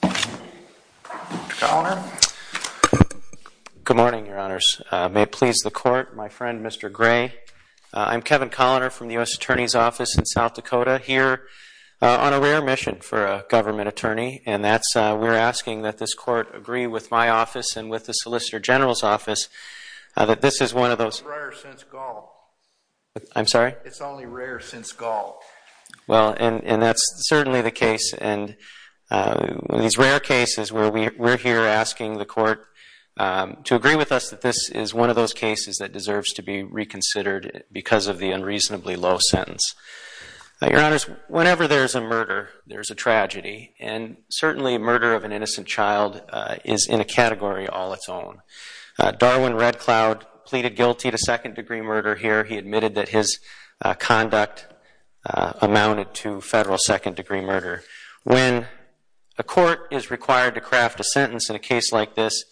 Good morning, your honors. May it please the court, my friend, Mr. Gray. I'm Kevin Colliner from the U.S. Attorney's Office in South Dakota here on a rare mission for a government attorney, and that's we're asking that this court agree with my office and with the Solicitor General's office that this is one of those... It's rare since Gaul. I'm sorry? It's only rare since Gaul. Well, and that's certainly the case, and one of these rare cases where we're here asking the court to agree with us that this is one of those cases that deserves to be reconsidered because of the unreasonably low sentence. Your honors, whenever there's a murder, there's a tragedy, and certainly a murder of an innocent child is in a category all its own. Darwin Red Cloud pleaded guilty to second-degree murder here. He admitted that his conduct amounted to federal second-degree murder. When a court is required to craft a sentence in a case like this,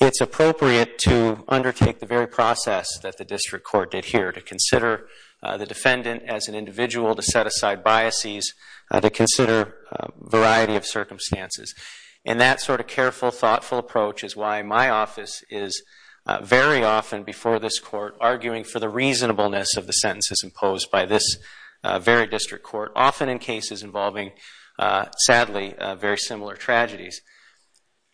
it's appropriate to undertake the very process that the district court did here, to consider the defendant as an individual, to set aside biases, to consider a variety of circumstances. And that sort of careful, thoughtful approach is why my office is very often before this for the reasonableness of the sentences imposed by this very district court, often in cases involving, sadly, very similar tragedies.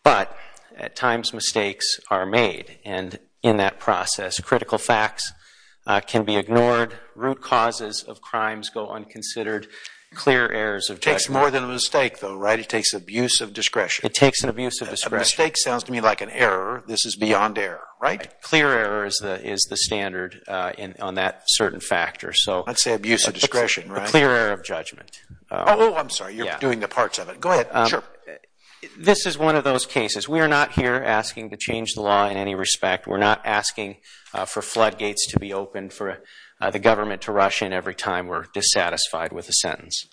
But at times, mistakes are made, and in that process, critical facts can be ignored, root causes of crimes go unconsidered, clear errors of judgment... It takes more than a mistake, though, right? It takes abuse of discretion. It takes an abuse of discretion. A mistake sounds to me like an error. This is beyond error, right? Clear error is the standard on that certain factor, so... I'd say abuse of discretion, right? A clear error of judgment. Oh, I'm sorry, you're doing the parts of it. Go ahead, sure. This is one of those cases. We are not here asking to change the law in any respect. We're not asking for floodgates to be opened, for the government to rush in every time we're dissatisfied with a sentence.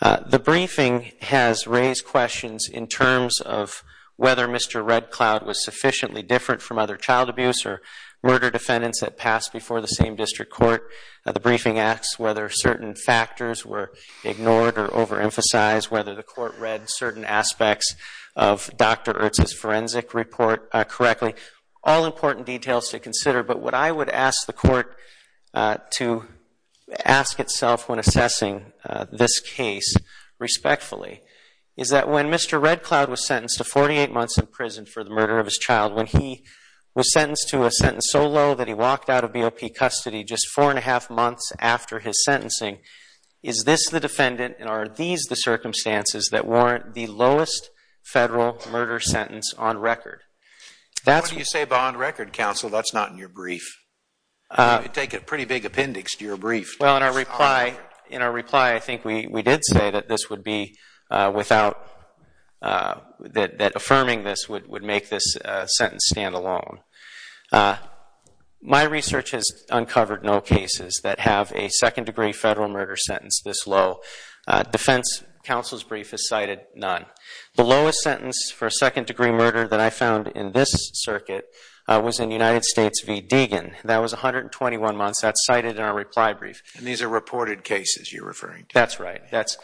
The briefing has raised questions in terms of whether Mr. Red Cloud was sufficiently different from other child abuse or murder defendants that passed before the same district court. The briefing asks whether certain factors were ignored or overemphasized, whether the court read certain aspects of Dr. Ertz's forensic report correctly. All important details to consider, but what I would ask the court to ask itself when assessing this case respectfully is that when Mr. Red Cloud was sentenced to 48 months in prison for the murder of his child, when he was sentenced to a sentence so low that he walked out of BOP custody just four and a half months after his sentencing, is this the defendant and are these the circumstances that warrant the lowest federal murder sentence on record? What do you say by on record, counsel? That's not in your brief. You take a pretty big appendix to your brief. Well, in our reply I think we did say that this would be without, that affirming this would make this sentence stand alone. My research has uncovered no cases that have a second degree federal murder sentence this low. Defense counsel's brief has cited none. The lowest sentence for a second degree murder that I found in this circuit was in United States v. Deegan. That was 121 months. That's cited in our reply brief. And these are reported cases you're referring to? That's right. That's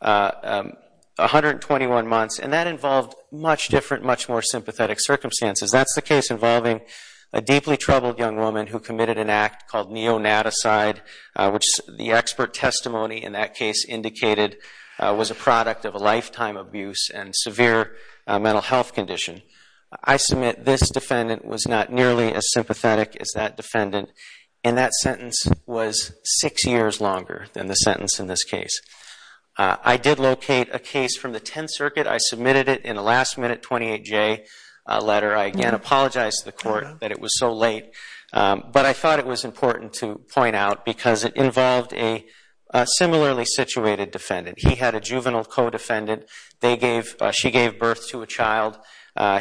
121 months and that involved much different, much more sympathetic circumstances. That's the case involving a deeply troubled young woman who committed an act called neonaticide, which the expert testimony in that case indicated was a product of a lifetime abuse and severe mental health condition. I submit this defendant was not nearly as sympathetic as that defendant. And that sentence was six years longer than the sentence in this case. I did locate a case from the Tenth Circuit. I submitted it in a last minute 28-J letter. I again apologize to the court that it was so late. But I thought it was important to point out because it involved a similarly situated defendant. He had a juvenile co-defendant. She gave birth to a child.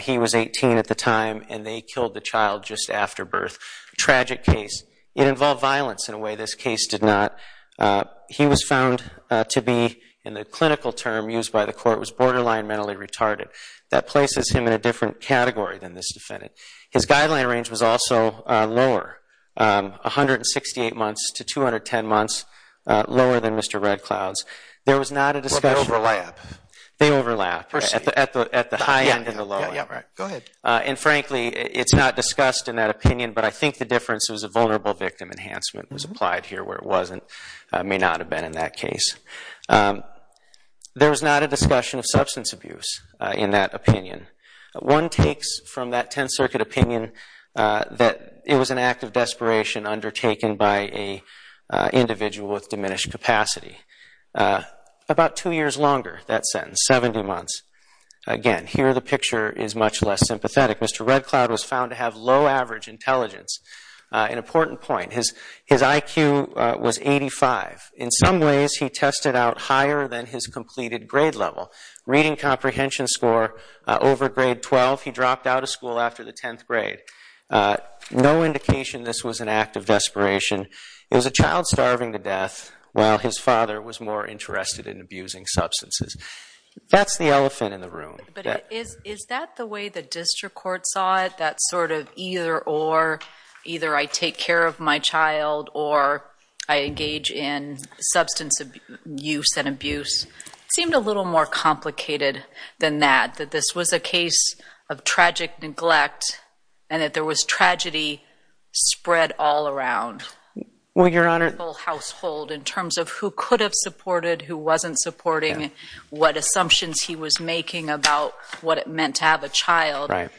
He was 18 at the time and they killed the child just after birth. Tragic case. It involved violence in a way this case did not. He was found to be, in the clinical term used by the court, was borderline mentally retarded. That places him in a different category than this defendant. His guideline range was also lower, 168 months to 210 months, lower than Mr. Red Cloud's. There was not a discussion. Well, they overlap. They overlap. At the high end and the low end. Go ahead. And frankly, it's not discussed in that opinion. But I think the difference was a vulnerable victim enhancement was applied here where it wasn't. May not have been in that case. There was not a discussion of substance abuse in that opinion. One takes from that Tenth Circuit opinion that it was an act of desperation undertaken by an individual with diminished capacity. About two years longer, that sentence. Seventy months. Again, here the picture is much less sympathetic. Mr. Red Cloud was found to have low average intelligence. An important point. His IQ was 85. In some ways, he tested out higher than his completed grade level. Reading comprehension score over grade 12, he dropped out of school after the 10th grade. No indication this was an act of desperation. It was a child starving to death while his father was more interested in abusing substances. That's the elephant in the room. But is that the way the district court saw it? That sort of either or. Either I take care of my child or I engage in substance abuse and abuse. It seemed a little more complicated than that. That this was a case of tragic neglect and that there was tragedy spread all around. Well, Your Honor. The whole household in terms of who could have supported, who wasn't supporting, what assumptions he was making about what it meant to have a child. Right.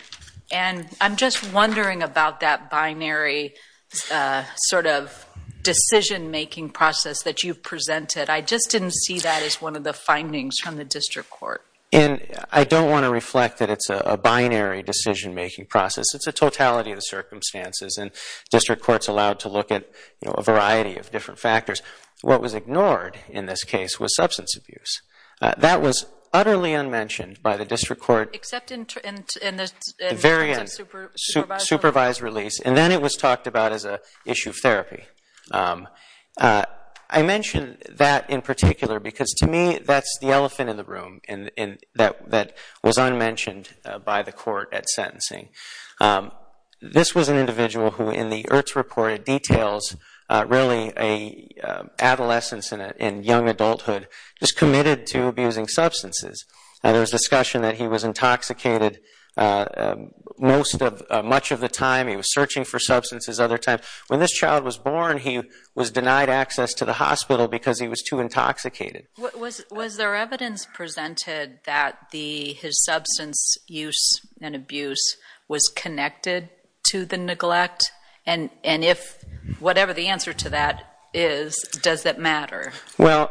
And I'm just wondering about that binary sort of decision making process that you've presented. I just didn't see that as one of the findings from the district court. I don't want to reflect that it's a binary decision making process. It's a totality of the circumstances. And district courts allowed to look at a variety of different factors. What was ignored in this case was substance abuse. That was utterly unmentioned by the district court. Except in terms of supervised release. Supervised release. And then it was talked about as an issue of therapy. I mention that in particular because to me that's the elephant in the room. That was unmentioned by the court at sentencing. This was an individual who in the IRTS report details really an adolescence and young adulthood just committed to abusing substances. There was discussion that he was intoxicated much of the time. He was searching for substances other times. But when this child was born, he was denied access to the hospital because he was too intoxicated. Was there evidence presented that his substance use and abuse was connected to the neglect? And if whatever the answer to that is, does that matter? Well,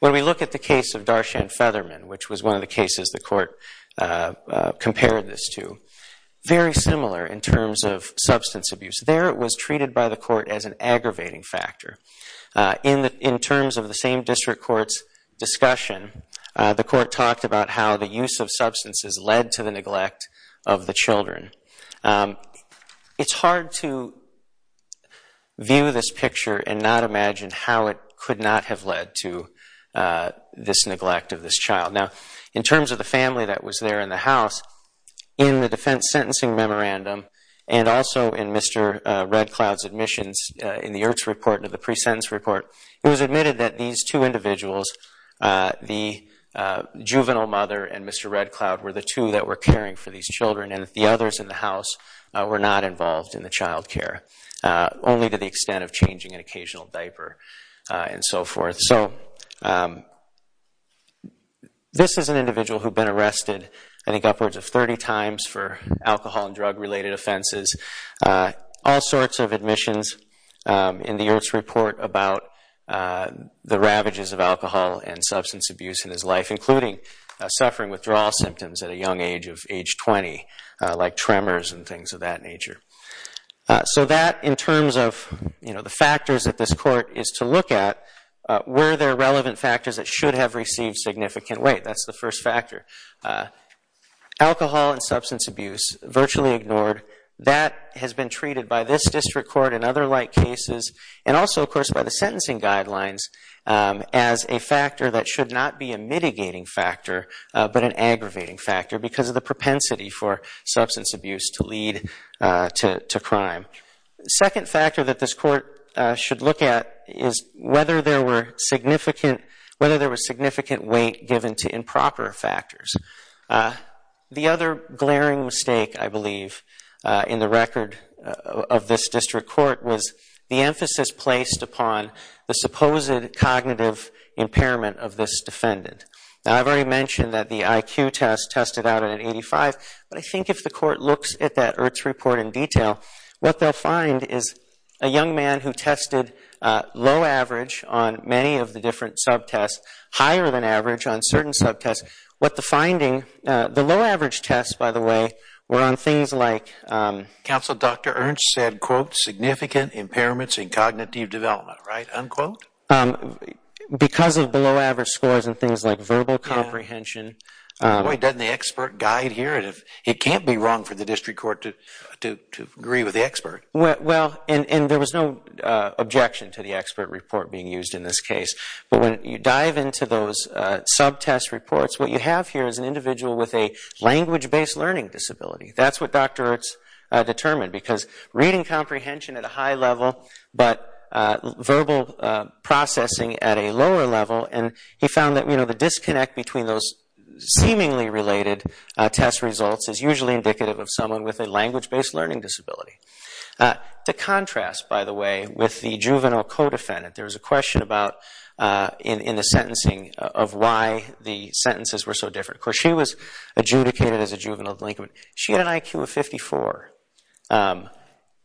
when we look at the case of Darshan Featherman, which was one of the cases the court compared this to, very similar in terms of substance abuse. There it was treated by the court as an aggravating factor. In terms of the same district court's discussion, the court talked about how the use of substances led to the neglect of the children. It's hard to view this picture and not imagine how it could not have led to this neglect of this child. Now, in terms of the family that was there in the house, in the defense sentencing memorandum and also in Mr. Red Cloud's admissions, in the IRTS report and the pre-sentence report, it was admitted that these two individuals, the juvenile mother and Mr. Red Cloud, were the two that were caring for these children, and that the others in the house were not involved in the child care, only to the extent of changing an occasional diaper and so forth. So this is an individual who had been arrested, I think, upwards of 30 times for alcohol and drug-related offenses, all sorts of admissions in the IRTS report about the ravages of alcohol and substance abuse in his life, including suffering withdrawal symptoms at a young age of age 20, like tremors and things of that nature. So that, in terms of the factors that this court is to look at, were there relevant factors that should have received significant weight? That's the first factor. Alcohol and substance abuse, virtually ignored. That has been treated by this district court and other like cases, and also, of course, by the sentencing guidelines, as a factor that should not be a mitigating factor but an aggravating factor because of the propensity for substance abuse to lead to crime. The second factor that this court should look at is whether there were significant weight given to improper factors. The other glaring mistake, I believe, in the record of this district court, was the emphasis placed upon the supposed cognitive impairment of this defendant. Now, I've already mentioned that the IQ test tested out at an 85, but I think if the court looks at that IRTS report in detail, what they'll find is a young man who tested low average on many of the different subtests, higher than average on certain subtests. What the finding, the low average tests, by the way, were on things like... Counsel, Dr. Ernst said, quote, significant impairments in cognitive development, right, unquote? Because of below average scores and things like verbal comprehension. Boy, doesn't the expert guide here. It can't be wrong for the district court to agree with the expert. Well, and there was no objection to the expert report being used in this case. But when you dive into those subtest reports, what you have here is an individual with a language-based learning disability. That's what Dr. Ernst determined because reading comprehension at a high level but verbal processing at a lower level, and he found that the disconnect between those seemingly related test results is usually indicative of someone with a language-based learning disability. To contrast, by the way, with the juvenile co-defendant, there was a question in the sentencing of why the sentences were so different. Of course, she was adjudicated as a juvenile delinquent. She had an IQ of 54.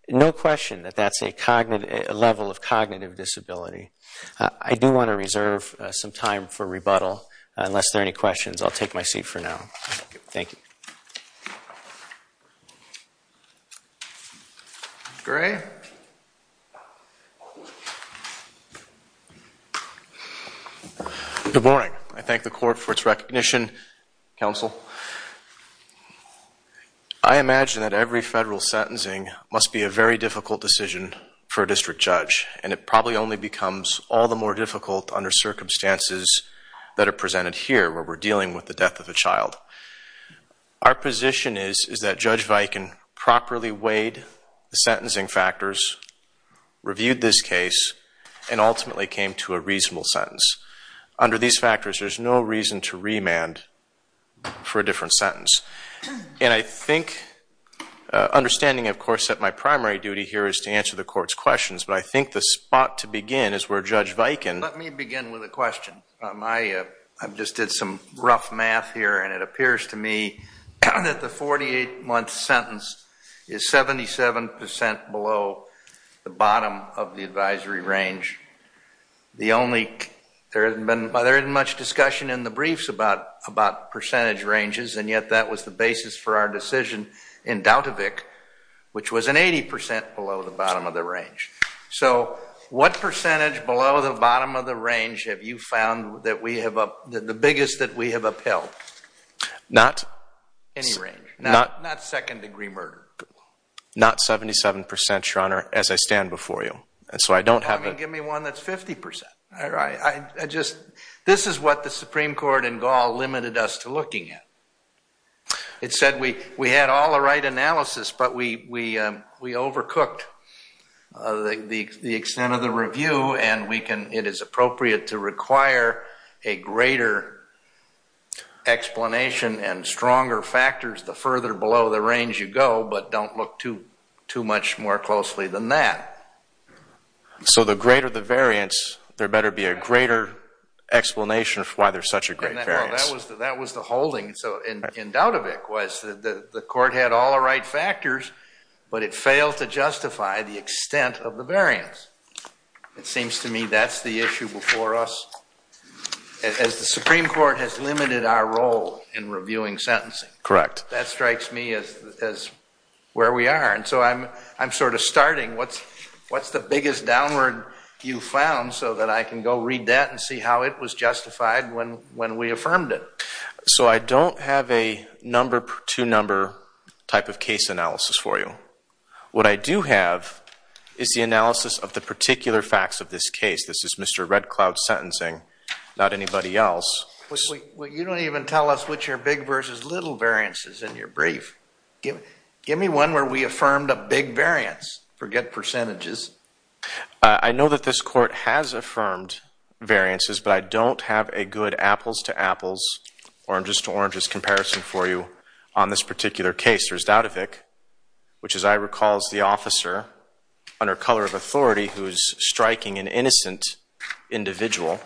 No question that that's a level of cognitive disability. I do want to reserve some time for rebuttal unless there are any questions. I'll take my seat for now. Thank you. Gray? Good morning. I thank the court for its recognition. Counsel? Counsel, I imagine that every federal sentencing must be a very difficult decision for a district judge, and it probably only becomes all the more difficult under circumstances that are presented here where we're dealing with the death of a child. Our position is that Judge Viken properly weighed the sentencing factors, reviewed this case, and ultimately came to a reasonable sentence. Under these factors, there's no reason to remand for a different sentence. And I think, understanding, of course, that my primary duty here is to answer the court's questions, but I think the spot to begin is where Judge Viken... Let me begin with a question. I just did some rough math here, and it appears to me that the 48-month sentence is 77% below the bottom of the advisory range. The only... There hasn't been much discussion in the briefs about percentage ranges, and yet that was the basis for our decision in Dautovic, which was an 80% below the bottom of the range. So what percentage below the bottom of the range have you found that we have up... the biggest that we have upheld? Not... Any range? Not second-degree murder? Not 77%, Your Honor, as I stand before you. So I don't have... Give me one that's 50%. I just... This is what the Supreme Court in Gaul limited us to looking at. It said we had all the right analysis, but we overcooked the extent of the review, and we can... It is appropriate to require a greater explanation and stronger factors the further below the range you go, but don't look too much more closely than that. So the greater the variance, there better be a greater explanation for why there's such a great variance. Well, that was the holding. So in Dautovic, the court had all the right factors, but it failed to justify the extent of the variance. It seems to me that's the issue before us. As the Supreme Court has limited our role in reviewing sentencing... Correct. ...that strikes me as where we are, and so I'm sort of starting. What's the biggest downward you've found so that I can go read that and see how it was justified when we affirmed it? So I don't have a number-to-number type of case analysis for you. What I do have is the analysis of the particular facts of this case. This is Mr. Red Cloud's sentencing, not anybody else. Well, you don't even tell us which are big versus little variances in your brief. Give me one where we affirmed a big variance. Forget percentages. I know that this court has affirmed variances, but I don't have a good apples-to-apples, oranges-to-oranges comparison for you on this particular case. There's Dautovic, which as I recall is the officer under color of authority who is striking an innocent individual.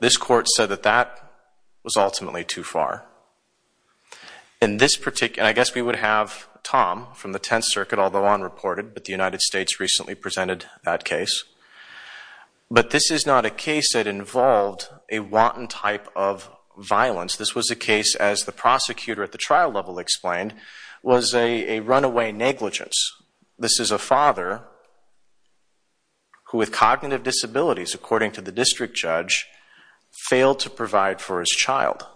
This court said that that was ultimately too far. And I guess we would have Tom from the Tenth Circuit, although unreported, but the United States recently presented that case. But this is not a case that involved a wanton type of violence. This was a case, as the prosecutor at the trial level explained, was a runaway negligence. This is a father who with cognitive disabilities, according to the district judge, failed to provide for his child.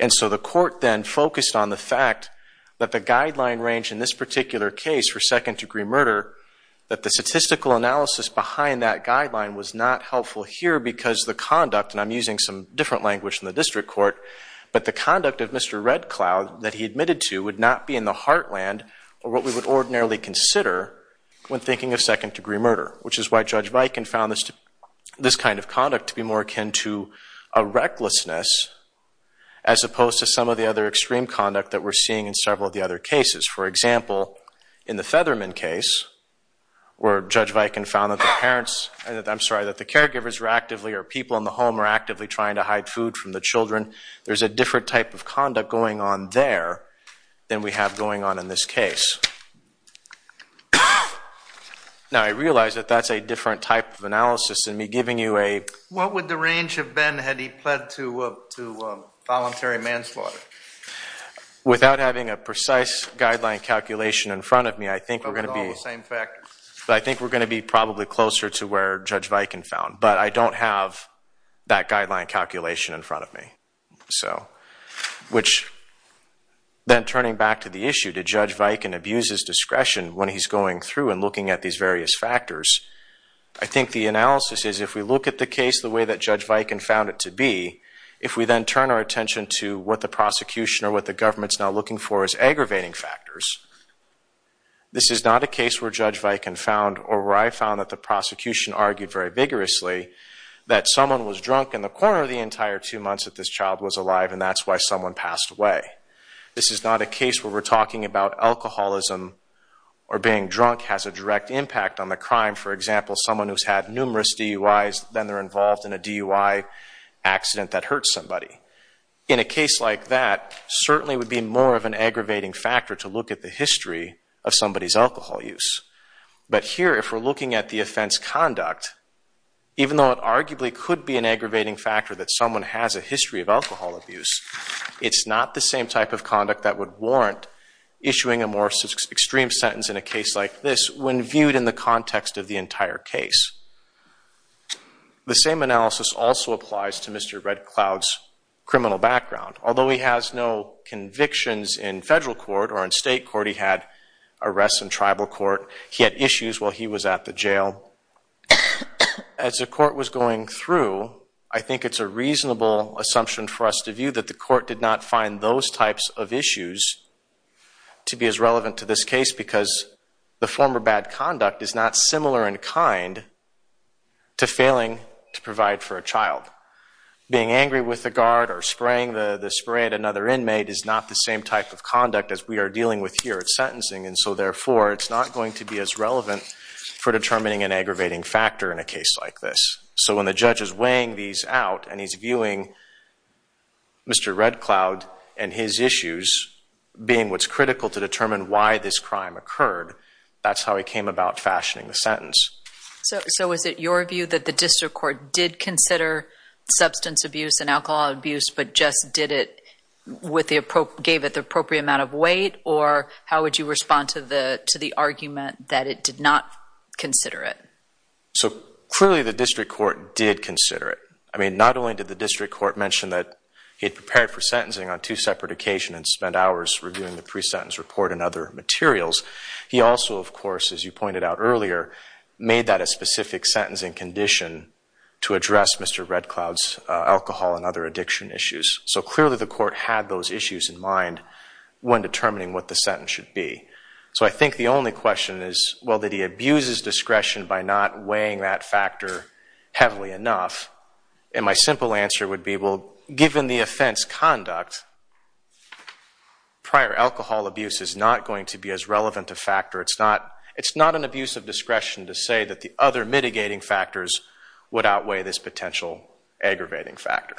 And so the court then focused on the fact that the guideline range in this particular case for second-degree murder, that the statistical analysis behind that guideline was not helpful here because the conduct, and I'm using some different language than the district court, but the conduct of Mr. Red Cloud that he admitted to would not be in the heartland or what we would ordinarily consider when thinking of second-degree murder, which is why Judge Viken found this kind of conduct to be more akin to a recklessness as opposed to some of the other extreme conduct that we're seeing in several of the other cases. For example, in the Featherman case, where Judge Viken found that the parents, I'm sorry, that the caregivers were actively, or people in the home were actively trying to hide food from the children. There's a different type of conduct going on there than we have going on in this case. Now, I realize that that's a different type of analysis than me giving you a... What would the range have been had he pled to voluntary manslaughter? Without having a precise guideline calculation in front of me, I think we're going to be... But with all the same factors. But I think we're going to be probably closer to where Judge Viken found. But I don't have that guideline calculation in front of me. Which, then turning back to the issue, did Judge Viken abuse his discretion when he's going through and looking at these various factors? I think the analysis is, if we look at the case the way that Judge Viken found it to be, if we then turn our attention to what the prosecution or what the government's now looking for is aggravating factors, this is not a case where Judge Viken found, or where I found that the prosecution argued very vigorously, that someone was drunk in the corner of the entire two months that this child was alive and that's why someone passed away. This is not a case where we're talking about alcoholism or being drunk has a direct impact on the crime. For example, someone who's had numerous DUIs, then they're involved in a DUI accident that hurts somebody. In a case like that, certainly would be more of an aggravating factor to look at the history of somebody's alcohol use. But here, if we're looking at the offense conduct, even though it arguably could be an aggravating factor that someone has a history of alcohol abuse, it's not the same type of conduct that would warrant issuing a more extreme sentence in a case like this when viewed in the context of the entire case. The same analysis also applies to Mr. Red Cloud's criminal background. Although he has no convictions in federal court or in state court, he had arrests in tribal court. He had issues while he was at the jail. As the court was going through, I think it's a reasonable assumption for us to view that the court did not find those types of issues to be as relevant to this case because the former bad conduct is not similar in kind to failing to provide for a child. Being angry with the guard or spraying another inmate is not the same type of conduct as we are dealing with here at sentencing, and so therefore it's not going to be as relevant for determining an aggravating factor in a case like this. So when the judge is weighing these out and he's viewing Mr. Red Cloud and his issues being what's critical to determine why this crime occurred, that's how he came about fashioning the sentence. So is it your view that the district court did consider substance abuse and alcohol abuse but just gave it the appropriate amount of weight, or how would you respond to the argument that it did not consider it? Clearly the district court did consider it. Not only did the district court mention that he had prepared for sentencing on two separate occasions and spent hours reviewing the pre-sentence report and other materials, he also, of course, as you pointed out earlier, made that a specific sentencing condition to address Mr. Red Cloud's alcohol and other addiction issues. So clearly the court had those issues in mind when determining what the sentence should be. So I think the only question is, well, did he abuse his discretion by not weighing that factor heavily enough? And my simple answer would be, well, given the offense conduct, prior alcohol abuse is not going to be as relevant a factor. It's not an abuse of discretion to say that the other mitigating factors would outweigh this potential aggravating factor.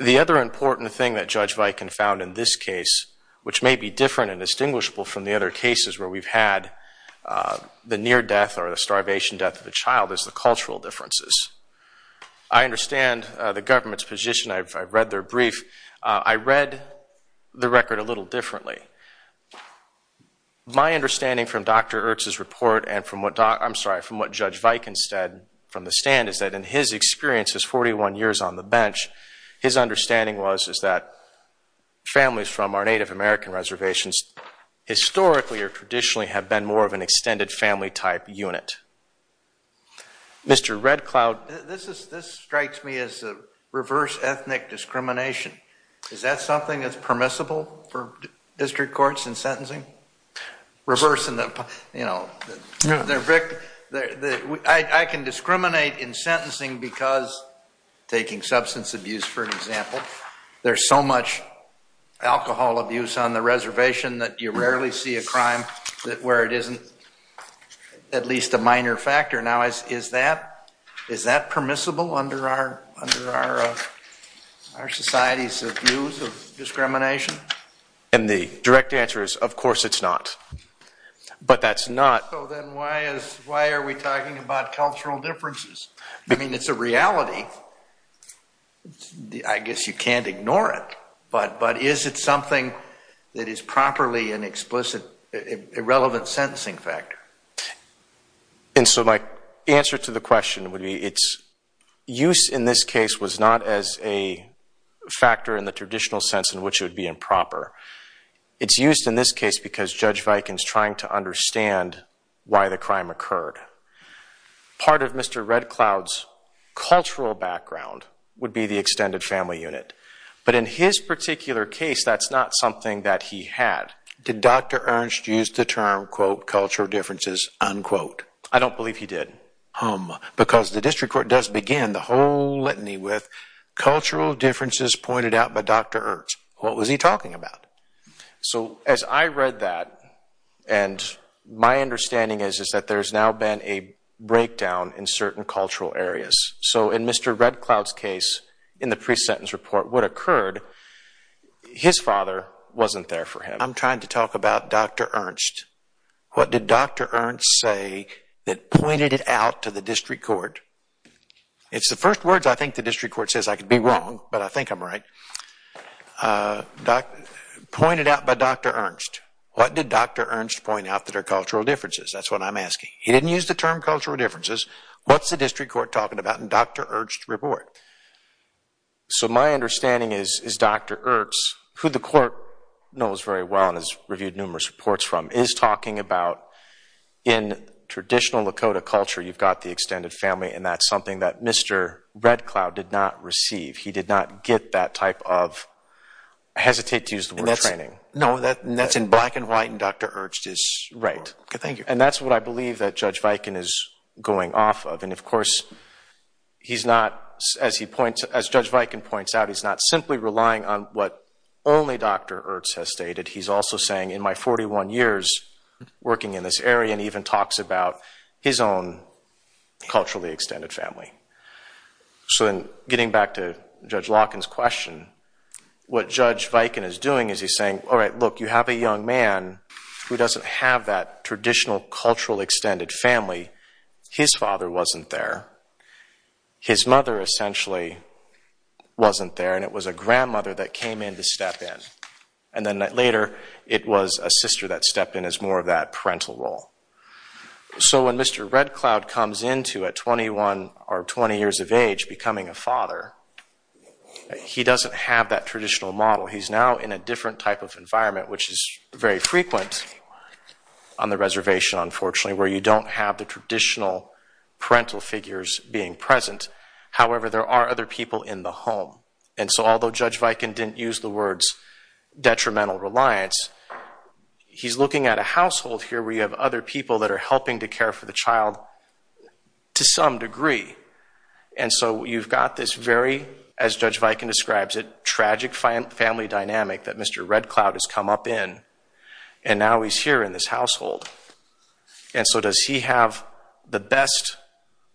The other important thing that Judge Viken found in this case, which may be different and distinguishable from the other cases where we've had the near death or the starvation death of a child, is the cultural differences. I understand the government's position. I've read their brief. I read the record a little differently. My understanding from Dr. Ertz's report and from what Judge Viken said from the stand is that in his experience, his 41 years on the bench, his understanding was that families from our Native American reservations historically or traditionally have been more of an extended family type unit. Mr. Red Cloud. This strikes me as reverse ethnic discrimination. Is that something that's permissible for district courts in sentencing? Reverse in the, you know, I can discriminate in sentencing because, taking substance abuse for an example, there's so much alcohol abuse on the reservation that you rarely see a crime where it isn't at least a minor factor. Now, is that permissible under our society's views of discrimination? And the direct answer is of course it's not. But that's not. So then why are we talking about cultural differences? I mean, it's a reality. I guess you can't ignore it. But is it something that is properly an explicit irrelevant sentencing factor? And so my answer to the question would be its use in this case was not as a factor in the traditional sense in which it would be improper. It's used in this case because Judge Viken's trying to understand why the crime occurred. Part of Mr. Red Cloud's cultural background would be the extended family unit. But in his particular case, that's not something that he had. Did Dr. Ernst use the term, quote, cultural differences, unquote? I don't believe he did. Because the district court does begin the whole litany with cultural differences pointed out by Dr. Ernst. What was he talking about? So as I read that, and my understanding is that there's now been a breakdown in certain cultural areas. So in Mr. Red Cloud's case, in the pre-sentence report, what occurred, his father wasn't there for him. I'm trying to talk about Dr. Ernst. What did Dr. Ernst say that pointed it out to the district court? It's the first words I think the district court says. I could be wrong, but I think I'm right. Pointed out by Dr. Ernst. What did Dr. Ernst point out that are cultural differences? That's what I'm asking. He didn't use the term cultural differences. What's the district court talking about in Dr. Ernst's report? So my understanding is Dr. Ernst, who the court knows very well and has reviewed numerous reports from, is talking about in traditional Lakota culture, you've got the extended family, and that's something that Mr. Red Cloud did not receive. He did not get that type of, I hesitate to use the word, training. No, that's in black and white in Dr. Ernst's report. Right. And that's what I believe that Judge Viken is going off of. And, of course, he's not, as Judge Viken points out, he's not simply relying on what only Dr. Ernst has stated. He's also saying, in my 41 years working in this area, and even talks about his own culturally extended family. So then getting back to Judge Lawkin's question, what Judge Viken is doing is he's saying, all right, look, you have a young man who doesn't have that traditional cultural extended family. His father wasn't there. His mother essentially wasn't there. And it was a grandmother that came in to step in. And then later it was a sister that stepped in as more of that parental role. So when Mr. Red Cloud comes into at 21 or 20 years of age becoming a father, he doesn't have that traditional model. He's now in a different type of environment, which is very frequent on the reservation, unfortunately, where you don't have the traditional parental figures being present. However, there are other people in the home. And so although Judge Viken didn't use the words detrimental reliance, he's looking at a household here where you have other people that are helping to care for the child to some degree. And so you've got this very, as Judge Viken describes it, tragic family dynamic that Mr. Red Cloud has come up in. And now he's here in this household. And so does he have the best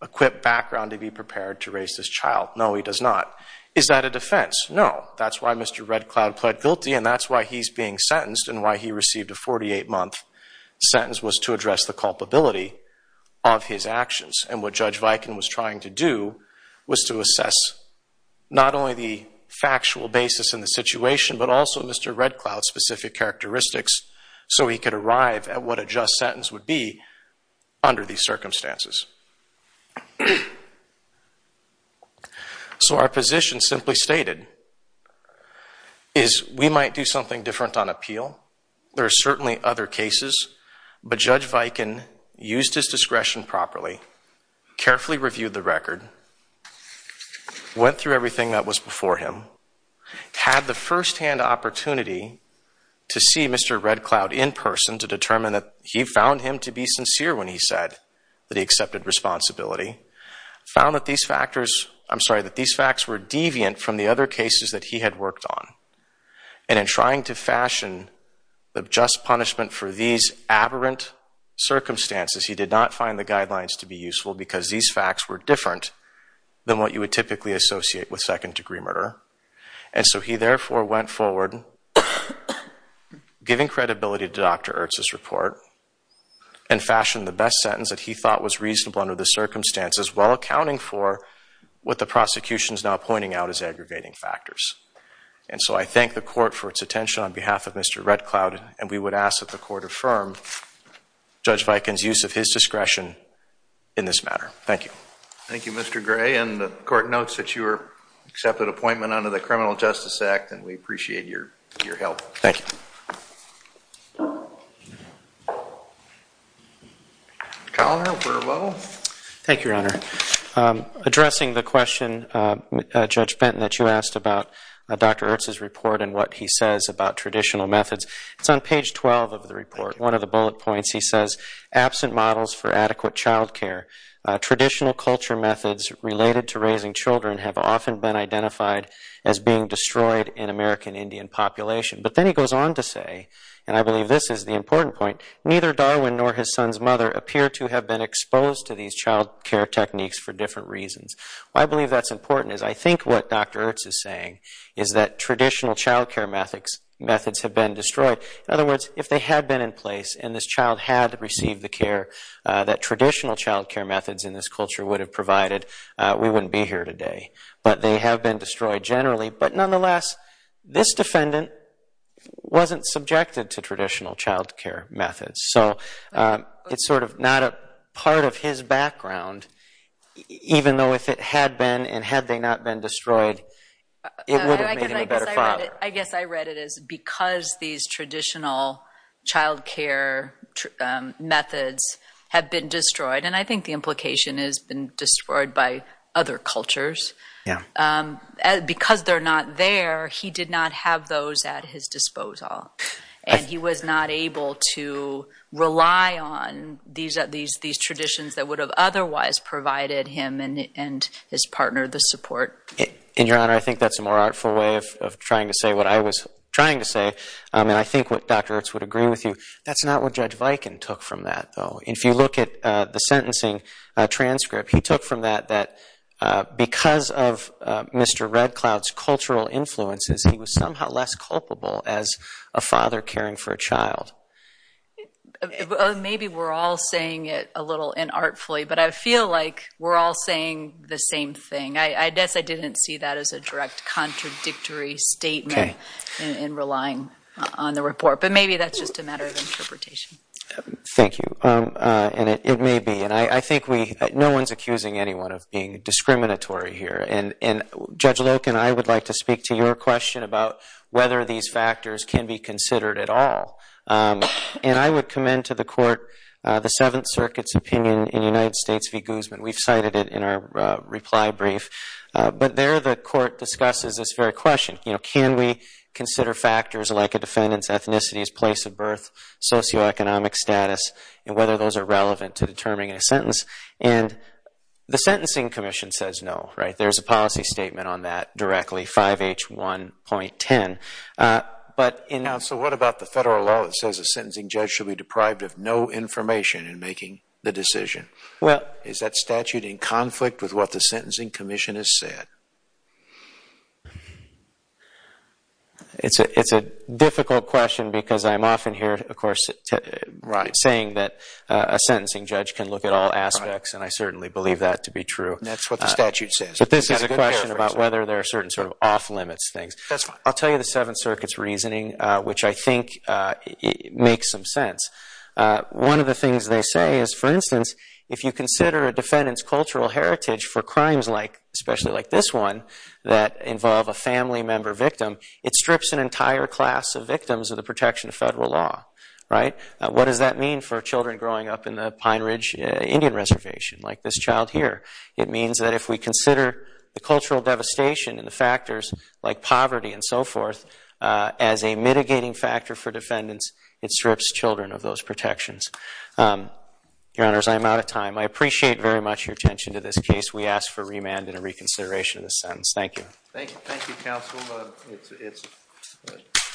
equipped background to be prepared to raise this child? No, he does not. Is that a defense? No. That's why Mr. Red Cloud pled guilty and that's why he's being sentenced and why he received a 48-month sentence was to address the culpability of his actions. And what Judge Viken was trying to do was to assess not only the factual basis in the situation but also Mr. Red Cloud's specific characteristics so he could arrive at what a just sentence would be under these circumstances. So our position simply stated is we might do something different on appeal. There are certainly other cases. But Judge Viken used his discretion properly, carefully reviewed the record, went through everything that was before him, had the firsthand opportunity to see Mr. Red Cloud in person to determine that he found him to be sincere when he said that he accepted responsibility, found that these facts were deviant from the other cases that he had worked on. And in trying to fashion the just punishment for these aberrant circumstances, he did not find the guidelines to be useful because these facts were different than what you would typically associate with second-degree murder. And so he therefore went forward, giving credibility to Dr. Ertz's report and fashioned the best sentence that he thought was reasonable under the circumstances while accounting for what the prosecution is now pointing out as aggregating factors. And so I thank the court for its attention on behalf of Mr. Red Cloud and we would ask that the court affirm Judge Viken's use of his discretion in this matter. Thank you. Thank you, Mr. Gray. And the court notes that you are accepted appointment under the Criminal Justice Act and we appreciate your help. Thank you. Colonel Burwell. Thank you, Your Honor. Addressing the question, Judge Benton, that you asked about Dr. Ertz's report and what he says about traditional methods, it's on page 12 of the report. One of the bullet points he says, absent models for adequate child care, traditional culture methods related to raising children have often been identified as being destroyed in American Indian population. But then he goes on to say, and I believe this is the important point, neither Darwin nor his son's mother appear to have been exposed to these child care techniques for different reasons. Why I believe that's important is I think what Dr. Ertz is saying is that traditional child care methods have been destroyed. In other words, if they had been in place and this child had received the care that traditional child care methods in this culture would have provided, we wouldn't be here today. But they have been destroyed generally. But nonetheless, this defendant wasn't subjected to traditional child care methods. So it's sort of not a part of his background, even though if it had been and had they not been destroyed, it would have made him a better father. I guess I read it as because these traditional child care methods have been destroyed, and I think the implication is been destroyed by other cultures, because they're not there, he did not have those at his disposal. And he was not able to rely on these traditions that would have otherwise provided him and his partner the support. In your honor, I think that's a more artful way of trying to say what I was trying to say, and I think what Dr. Ertz would agree with you. That's not what Judge Viken took from that, though. If you look at the sentencing transcript, he took from that that because of Mr. Red Cloud's cultural influences, he was somehow less culpable as a father caring for a child. Maybe we're all saying it a little inartfully, but I feel like we're all saying the same thing. I guess I didn't see that as a direct contradictory statement in relying on the report, but maybe that's just a matter of interpretation. Thank you, and it may be. And I think no one's accusing anyone of being discriminatory here, and Judge Loke and I would like to speak to your question about whether these factors can be considered at all. And I would commend to the Court the Seventh Circuit's opinion in United States v. Guzman. We've cited it in our reply brief. But there the Court discusses this very question. Can we consider factors like a defendant's ethnicity, his place of birth, socioeconomic status, and whether those are relevant to determining a sentence? And the Sentencing Commission says no. There's a policy statement on that directly, 5H1.10. So what about the federal law that says a sentencing judge should be deprived of no information in making the decision? Is that statute in conflict with what the Sentencing Commission has said? It's a difficult question because I'm often here, of course, saying that a sentencing judge can look at all aspects, and I certainly believe that to be true. And that's what the statute says. But this is a question about whether there are certain sort of off-limits things. I'll tell you the Seventh Circuit's reasoning, which I think makes some sense. One of the things they say is, for instance, if you consider a defendant's cultural heritage for crimes like, especially like this one, that involve a family member victim, it strips an entire class of victims of the protection of federal law. What does that mean for children growing up in the Pine Ridge Indian Reservation like this child here? It means that if we consider the cultural devastation and the factors like poverty and so forth as a mitigating factor for defendants, it strips children of those protections. Your Honors, I'm out of time. I appreciate very much your attention to this case. We ask for remand and a reconsideration of this sentence. Thank you. Thank you, counsel.